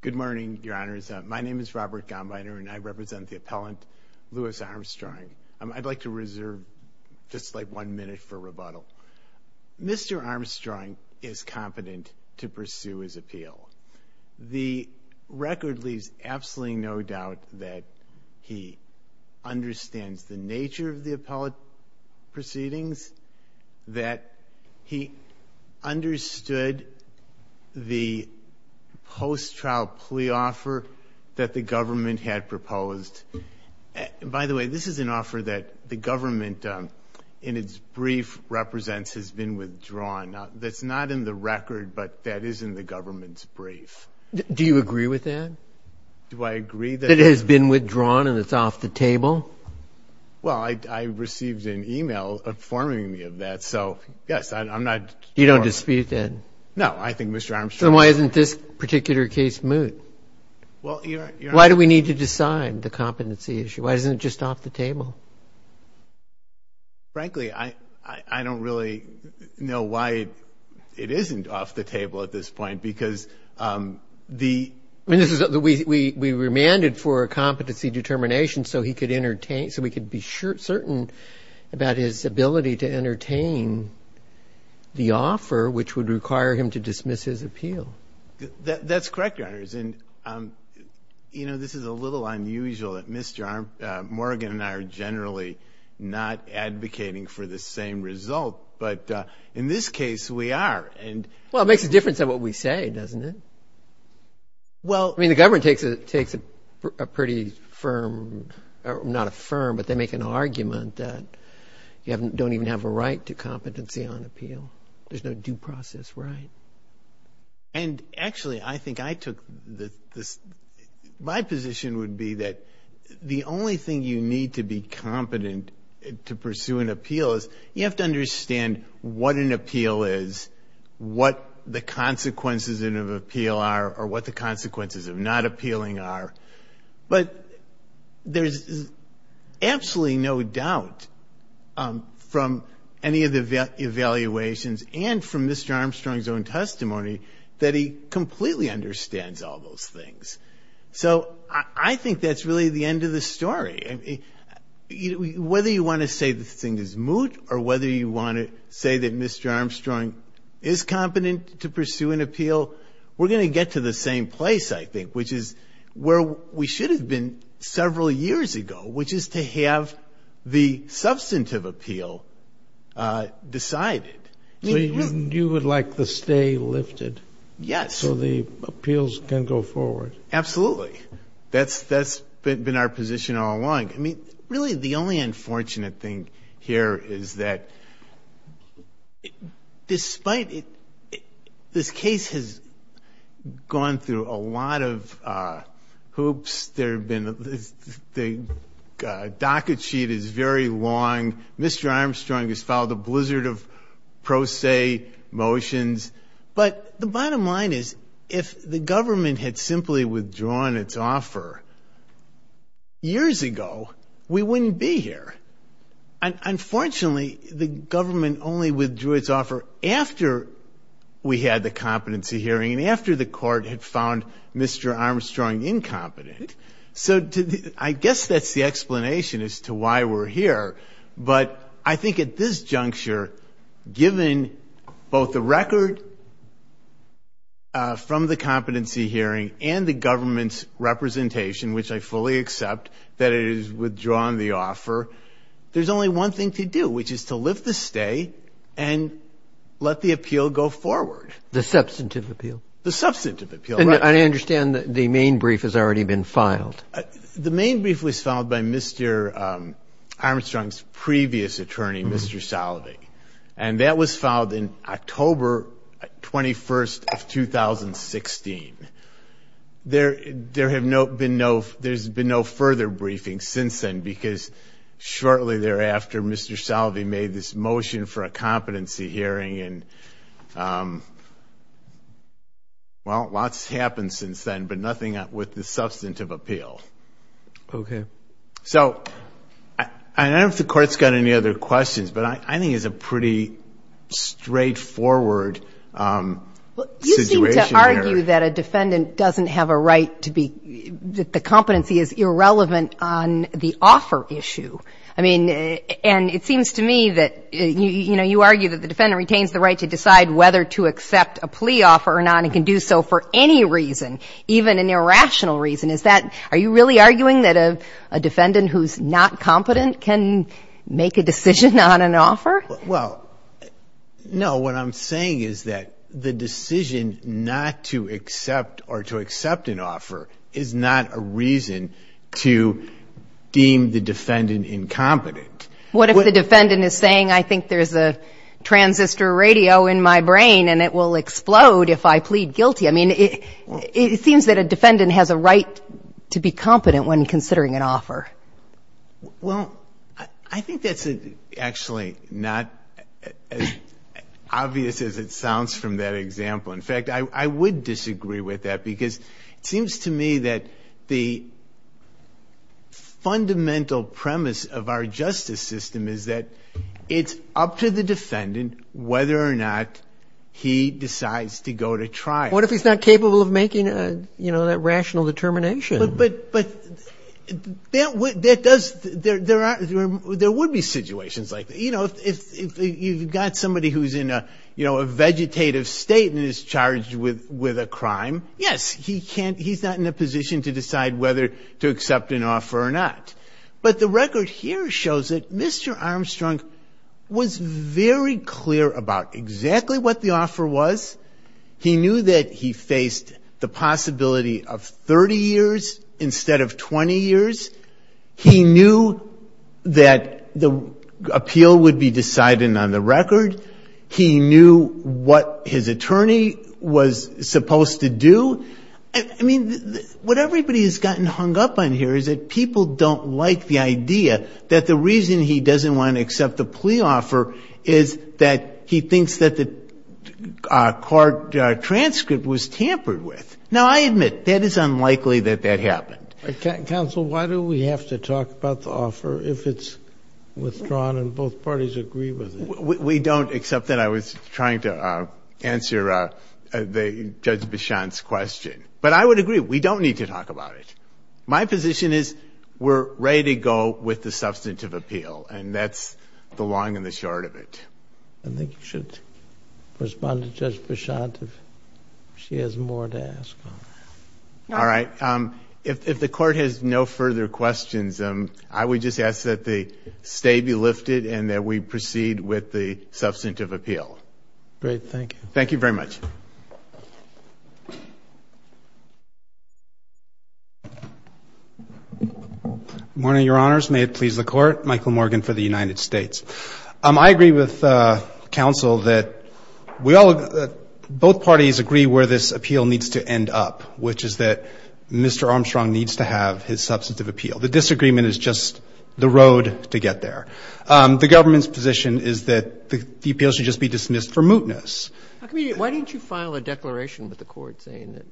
Good morning, your honors. My name is Robert Gombiner, and I represent the appellant, Lewis Armstrong. I'd like to reserve just like one minute for rebuttal. Mr. Armstrong is competent to pursue his appeal. The record leaves absolutely no doubt that he understands the nature of the appellate proceedings, that he understood the post-trial plea offer that the government had proposed. By the way, this is an offer that the government in its brief represents has been withdrawn. That's not in the record, but that is in the government's brief. Do you agree with that? Do I agree that it has been withdrawn and it's off the table? Well, I received an email informing me of that, so yes, I'm not... You don't dispute that? No, I think Mr. Armstrong... So why isn't this particular case moot? Why do we need to decide the competency issue? Why isn't it just off the table? Frankly, I don't really know why it isn't off the table at this point, because the... We remanded for a competency determination so he could entertain... So we could be certain about his ability to entertain the offer, which would require him to dismiss his appeal. That's correct, Your Honors, and this is a little unusual that Mr. Morgan and I are generally not advocating for the same result, but in this case, we are. Well, it makes a difference in what we say, doesn't it? I mean, the government takes a pretty firm... Not a firm, but they make an argument that you don't even have a right to competency on appeal. There's no due process right. Actually, I think I took... My position would be that the only thing you need to be competent to pursue an appeal is you have to understand what an appeal is, what the consequences of an appeal are, or what the consequences of not appealing are. But there's absolutely no doubt from any of the evaluations and from Mr. Armstrong's own testimony that he completely understands all those things. So I think that's really the end of the story. Whether you want to say the thing is moot, or whether you want to say that Mr. Armstrong is competent to pursue an appeal, we're going to get to the same place, I think, which is where we should have been several years ago, which is to have the substantive appeal decided. You would like to stay lifted so the appeals can go forward. Absolutely. That's been our position all along. I mean, really, the only unfortunate thing here is that despite... This case has gone through a lot of hoops. The docket sheet is very long. Mr. Armstrong has filed a blizzard of pro se motions. But the bottom line is, if the government had simply withdrawn its offer years ago, we wouldn't be here. Unfortunately, the government only withdrew its offer after we had the competency hearing and after the court had found Mr. Armstrong incompetent. So I guess that's the explanation as to why we're here. But I think at this juncture, given both the record from the competency hearing and the government's representation, which I fully accept that it has withdrawn the offer, there's only one thing to do, which is to lift the stay and let the appeal go forward. The substantive appeal. The substantive appeal. And I understand that the main brief has already been filed. The main brief was filed by Mr. Armstrong's previous attorney, Mr. Salovey. And that was filed in October 21st of 2016. There's been no further briefing since then because shortly thereafter Mr. Salovey made this motion for a competency hearing. Well, lots happened since then, but nothing with the substantive appeal. Okay. So I don't know if the Court's got any other questions, but I think it's a pretty straightforward situation here. Well, you seem to argue that a defendant doesn't have a right to be — that the competency is irrelevant on the offer issue. I mean, and it seems to me that, you know, you argue that the defendant retains the right to decide whether to accept a plea offer or not and can do so for any reason, even an irrational reason. Is that — are you really arguing that a defendant who's not competent can make a decision on an offer? Well, no. What I'm saying is that the decision not to accept or to accept an offer is not a reason to deem the defendant incompetent. What if the defendant is saying, I think there's a transistor radio in my brain and it will make me guilty? I mean, it seems that a defendant has a right to be competent when considering an offer. Well, I think that's actually not as obvious as it sounds from that example. In fact, I would disagree with that because it seems to me that the fundamental premise of our justice system is that it's up to the defendant whether or not he decides to go to trial. What if he's not capable of making, you know, that rational determination? But there would be situations like that. You know, if you've got somebody who's in a vegetative state and is charged with a crime, yes, he's not in a position to decide whether to accept an offer or not. But the record here shows that Mr. Armstrong was very clear about exactly what the offer was. He knew that he faced the possibility of 30 years instead of 20 years. He knew that the appeal would be decided on the record. He knew what his attorney was supposed to do. I mean, what everybody has gotten hung up on here is that people don't like the idea that the reason he doesn't want to accept the plea offer is that he thinks that the court transcript was tampered with. Now, I admit, that is unlikely that that happened. Counsel, why do we have to talk about the offer if it's withdrawn and both parties agree with it? We don't, except that I was trying to answer Judge Bichon's question. But I would agree. We don't need to talk about it. My position is we're ready to go with the substantive appeal. And that's the long and the short of it. I think you should respond to Judge Bichon if she has more to ask. All right. If the court has no further questions, I would just ask that the stay be lifted and that we proceed with the substantive appeal. Great. Thank you. Thank you very much. Good morning, Your Honors. May it please the Court. Michael Morgan for the United States. I agree with counsel that we all, both parties agree where this appeal needs to end up, which is that Mr. Armstrong needs to have his substantive appeal. The disagreement is just the road to get there. The government's position is that the appeal should just be dismissed for mootness. Why didn't you file a declaration with the court saying that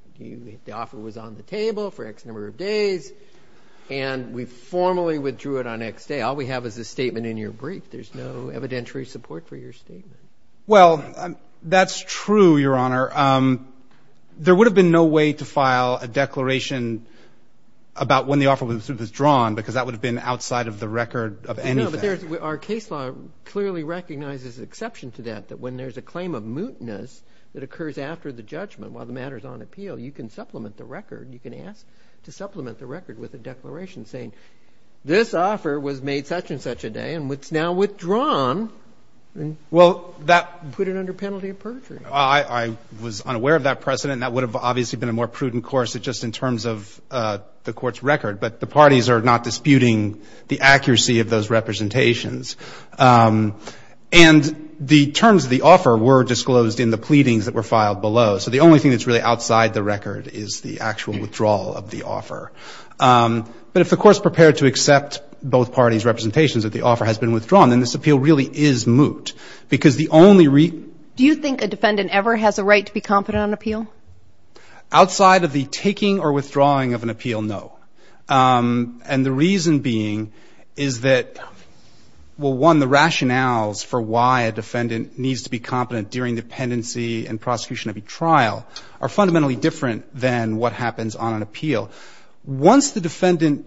the offer was on the days and we formally withdrew it on the next day? All we have is a statement in your brief. There's no evidentiary support for your statement. Well, that's true, Your Honor. There would have been no way to file a declaration about when the offer was drawn because that would have been outside of the record of anything. No, but our case law clearly recognizes an exception to that, that when there's a claim of mootness that occurs after the judgment while the matter is on appeal, you can supplement the record. You can ask to supplement the record with a declaration saying this offer was made such and such a day and it's now withdrawn and put it under penalty of perjury. I was unaware of that precedent. That would have obviously been a more prudent course just in terms of the court's record. But the parties are not disputing the accuracy of those representations. And the terms of the offer were disclosed in the pleadings that were filed below. So the only thing that's really outside the record is the actual withdrawal of the offer. But if the court's prepared to accept both parties' representations that the offer has been withdrawn, then this appeal really is moot because the only reason – Do you think a defendant ever has a right to be competent on appeal? Outside of the taking or withdrawing of an appeal, no. And the reason being is that, well, one, the rationales for why a defendant needs to be competent during dependency and prosecution of a trial are fundamentally different than what happens on an appeal. Once the defendant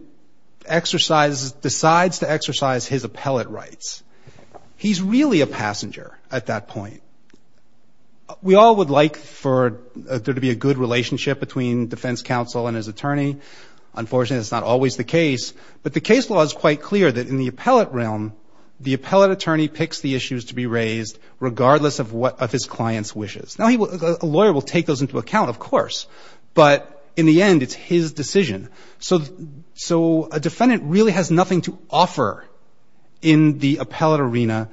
exercises – decides to exercise his appellate rights, he's really a passenger at that point. We all would like for there to be a good relationship between defense counsel and his attorney. Unfortunately, that's not always the case. But the case law is quite clear that in the appellate realm, the appellate attorney picks the issues to be raised regardless of what – of his client's wishes. Now, he will – a lawyer will take those into account, of course. But in the end, it's his decision. So a defendant really has nothing to offer in the appellate arena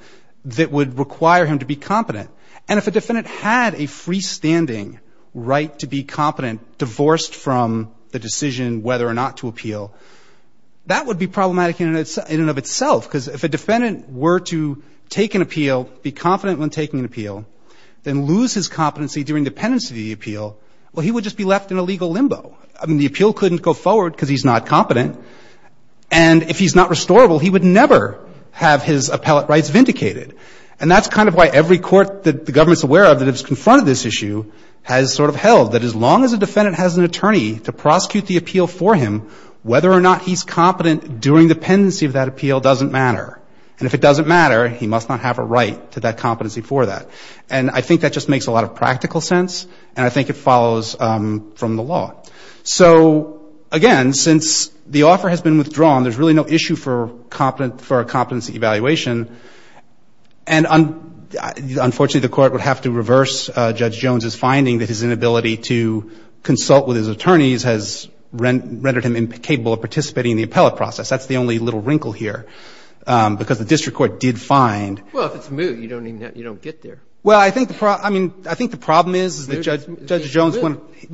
that would require him to be competent. And if a defendant had a freestanding right to be competent, divorced from the decision whether or not to appeal, that would be problematic in and of itself because if a defendant were to take an appeal, be confident when taking an appeal, then lose his competency during dependency to the appeal, well, he would just be left in a legal limbo. I mean, the appeal couldn't go forward because he's not competent. And if he's not restorable, he would never have his appellate rights vindicated. And that's kind of why every court that the government's aware of that has confronted this issue has sort of held that as long as a defendant has an attorney to prosecute the appeal for him, whether or not he's competent during dependency of that appeal doesn't matter. And if it doesn't matter, he must not have a right to that competency for that. And I think that just makes a lot of practical sense. And I think it follows from the law. So again, since the offer has been withdrawn, there's really no issue for a competency evaluation. And unfortunately, the court would have to reverse Judge Jones' finding that his inability to consult with his attorneys has rendered him incapable of participating in the appellate process. That's the only little wrinkle here because the district court did find. Well, if it's moot, you don't get there. Well, I think the problem is that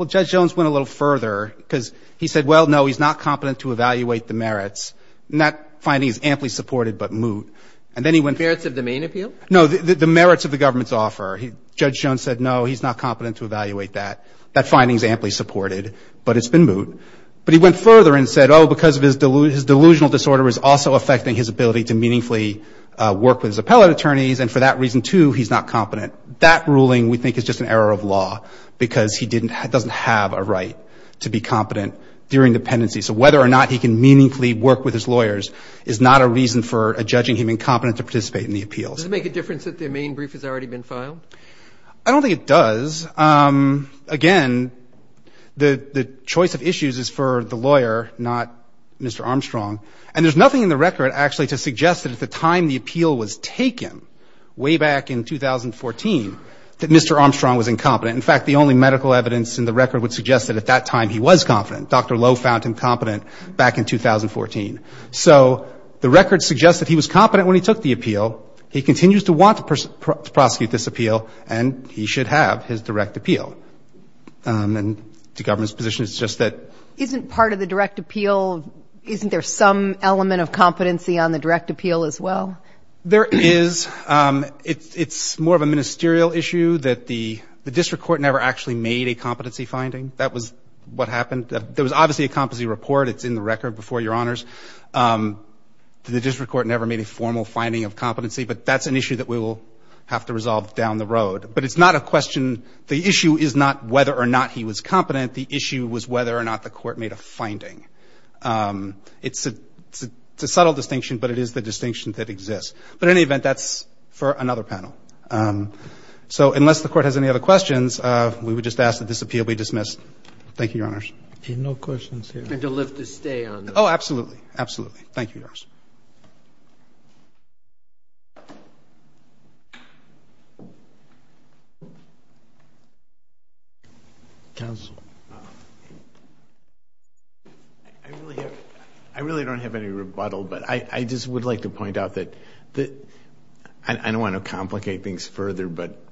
Judge Jones went a little further because he said, well, no, he's not competent to evaluate the merits. And that finding is amply supported but moot. The merits of the main appeal? No, the merits of the government's offer. Judge Jones said, no, he's not competent to evaluate that. That finding is amply supported, but it's been moot. But he went further and said, oh, because his delusional disorder is also affecting his ability to meaningfully work with his appellate attorneys, and for that reason, too, he's not competent. That ruling, we think, is just an error of law because he doesn't have a right to be competent during dependency. So whether or not he can meaningfully work with his lawyers is not a reason for a judging him incompetent to participate in the appeals. Does it make a difference that the main brief has already been filed? I don't think it does. Again, the choice of issues is for the lawyer, not Mr. Armstrong. And there's nothing in the record, actually, to suggest that at the time the appeal was taken, way back in 2014, that Mr. Armstrong was incompetent. In fact, the only medical evidence in the record would suggest that at that time he was competent. Dr. Lowe found him competent back in 2014. So the record suggests that he was competent when he took the appeal. He continues to want to prosecute this appeal, and he should have his direct appeal. And the government's position is just that. Isn't part of the direct appeal, isn't there some element of competency on the direct appeal as well? There is. It's more of a ministerial issue that the district court never actually made a competency finding. That was what happened. There was obviously a competency report. It's in the record before Your Honors. The district court never made a formal finding of competency. But that's an issue that we will have to resolve down the road. But it's not a question. The issue is not whether or not he was competent. The issue was whether or not the court made a finding. It's a subtle distinction, but it is the distinction that exists. But in any event, that's for another panel. So unless the court has any other questions, we would just ask that this appeal be dismissed. Thank you, Your Honors. No questions here. And to live to stay on this. Oh, absolutely. Absolutely. Thank you, Your Honors. Counsel. I really don't have any rebuttal, but I just would like to point out that I don't want to complicate things further, but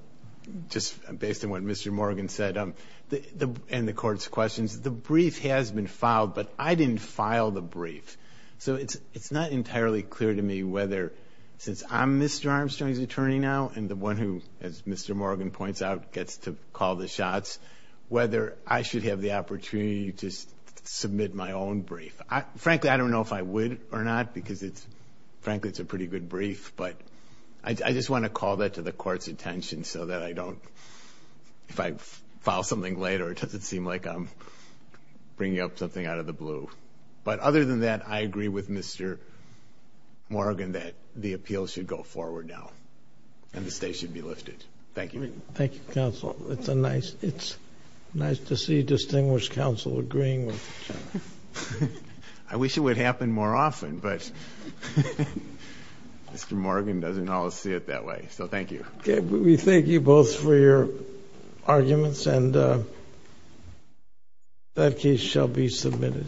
just based on what Mr. Morgan said and the court's questions, the brief has been filed, but I didn't file the brief. So it's not entirely clear to me whether, since I'm Mr. Armstrong's attorney now and the one who, as Mr. Morgan points out, gets to call the shots, whether I should have the opportunity to submit my own brief. Frankly, I don't know if I would or not because, frankly, it's a pretty good brief. But I just want to call that to the court's attention so that I don't, if I file something later, it doesn't seem like I'm bringing up something out of the blue. But other than that, I agree with Mr. Morgan that the appeal should go forward now and the state should be lifted. Thank you. Thank you, Counsel. It's nice to see distinguished counsel agreeing with each other. I wish it would happen more often, but Mr. Morgan doesn't always see it that way. So thank you. We thank you both for your arguments, and that case shall be submitted.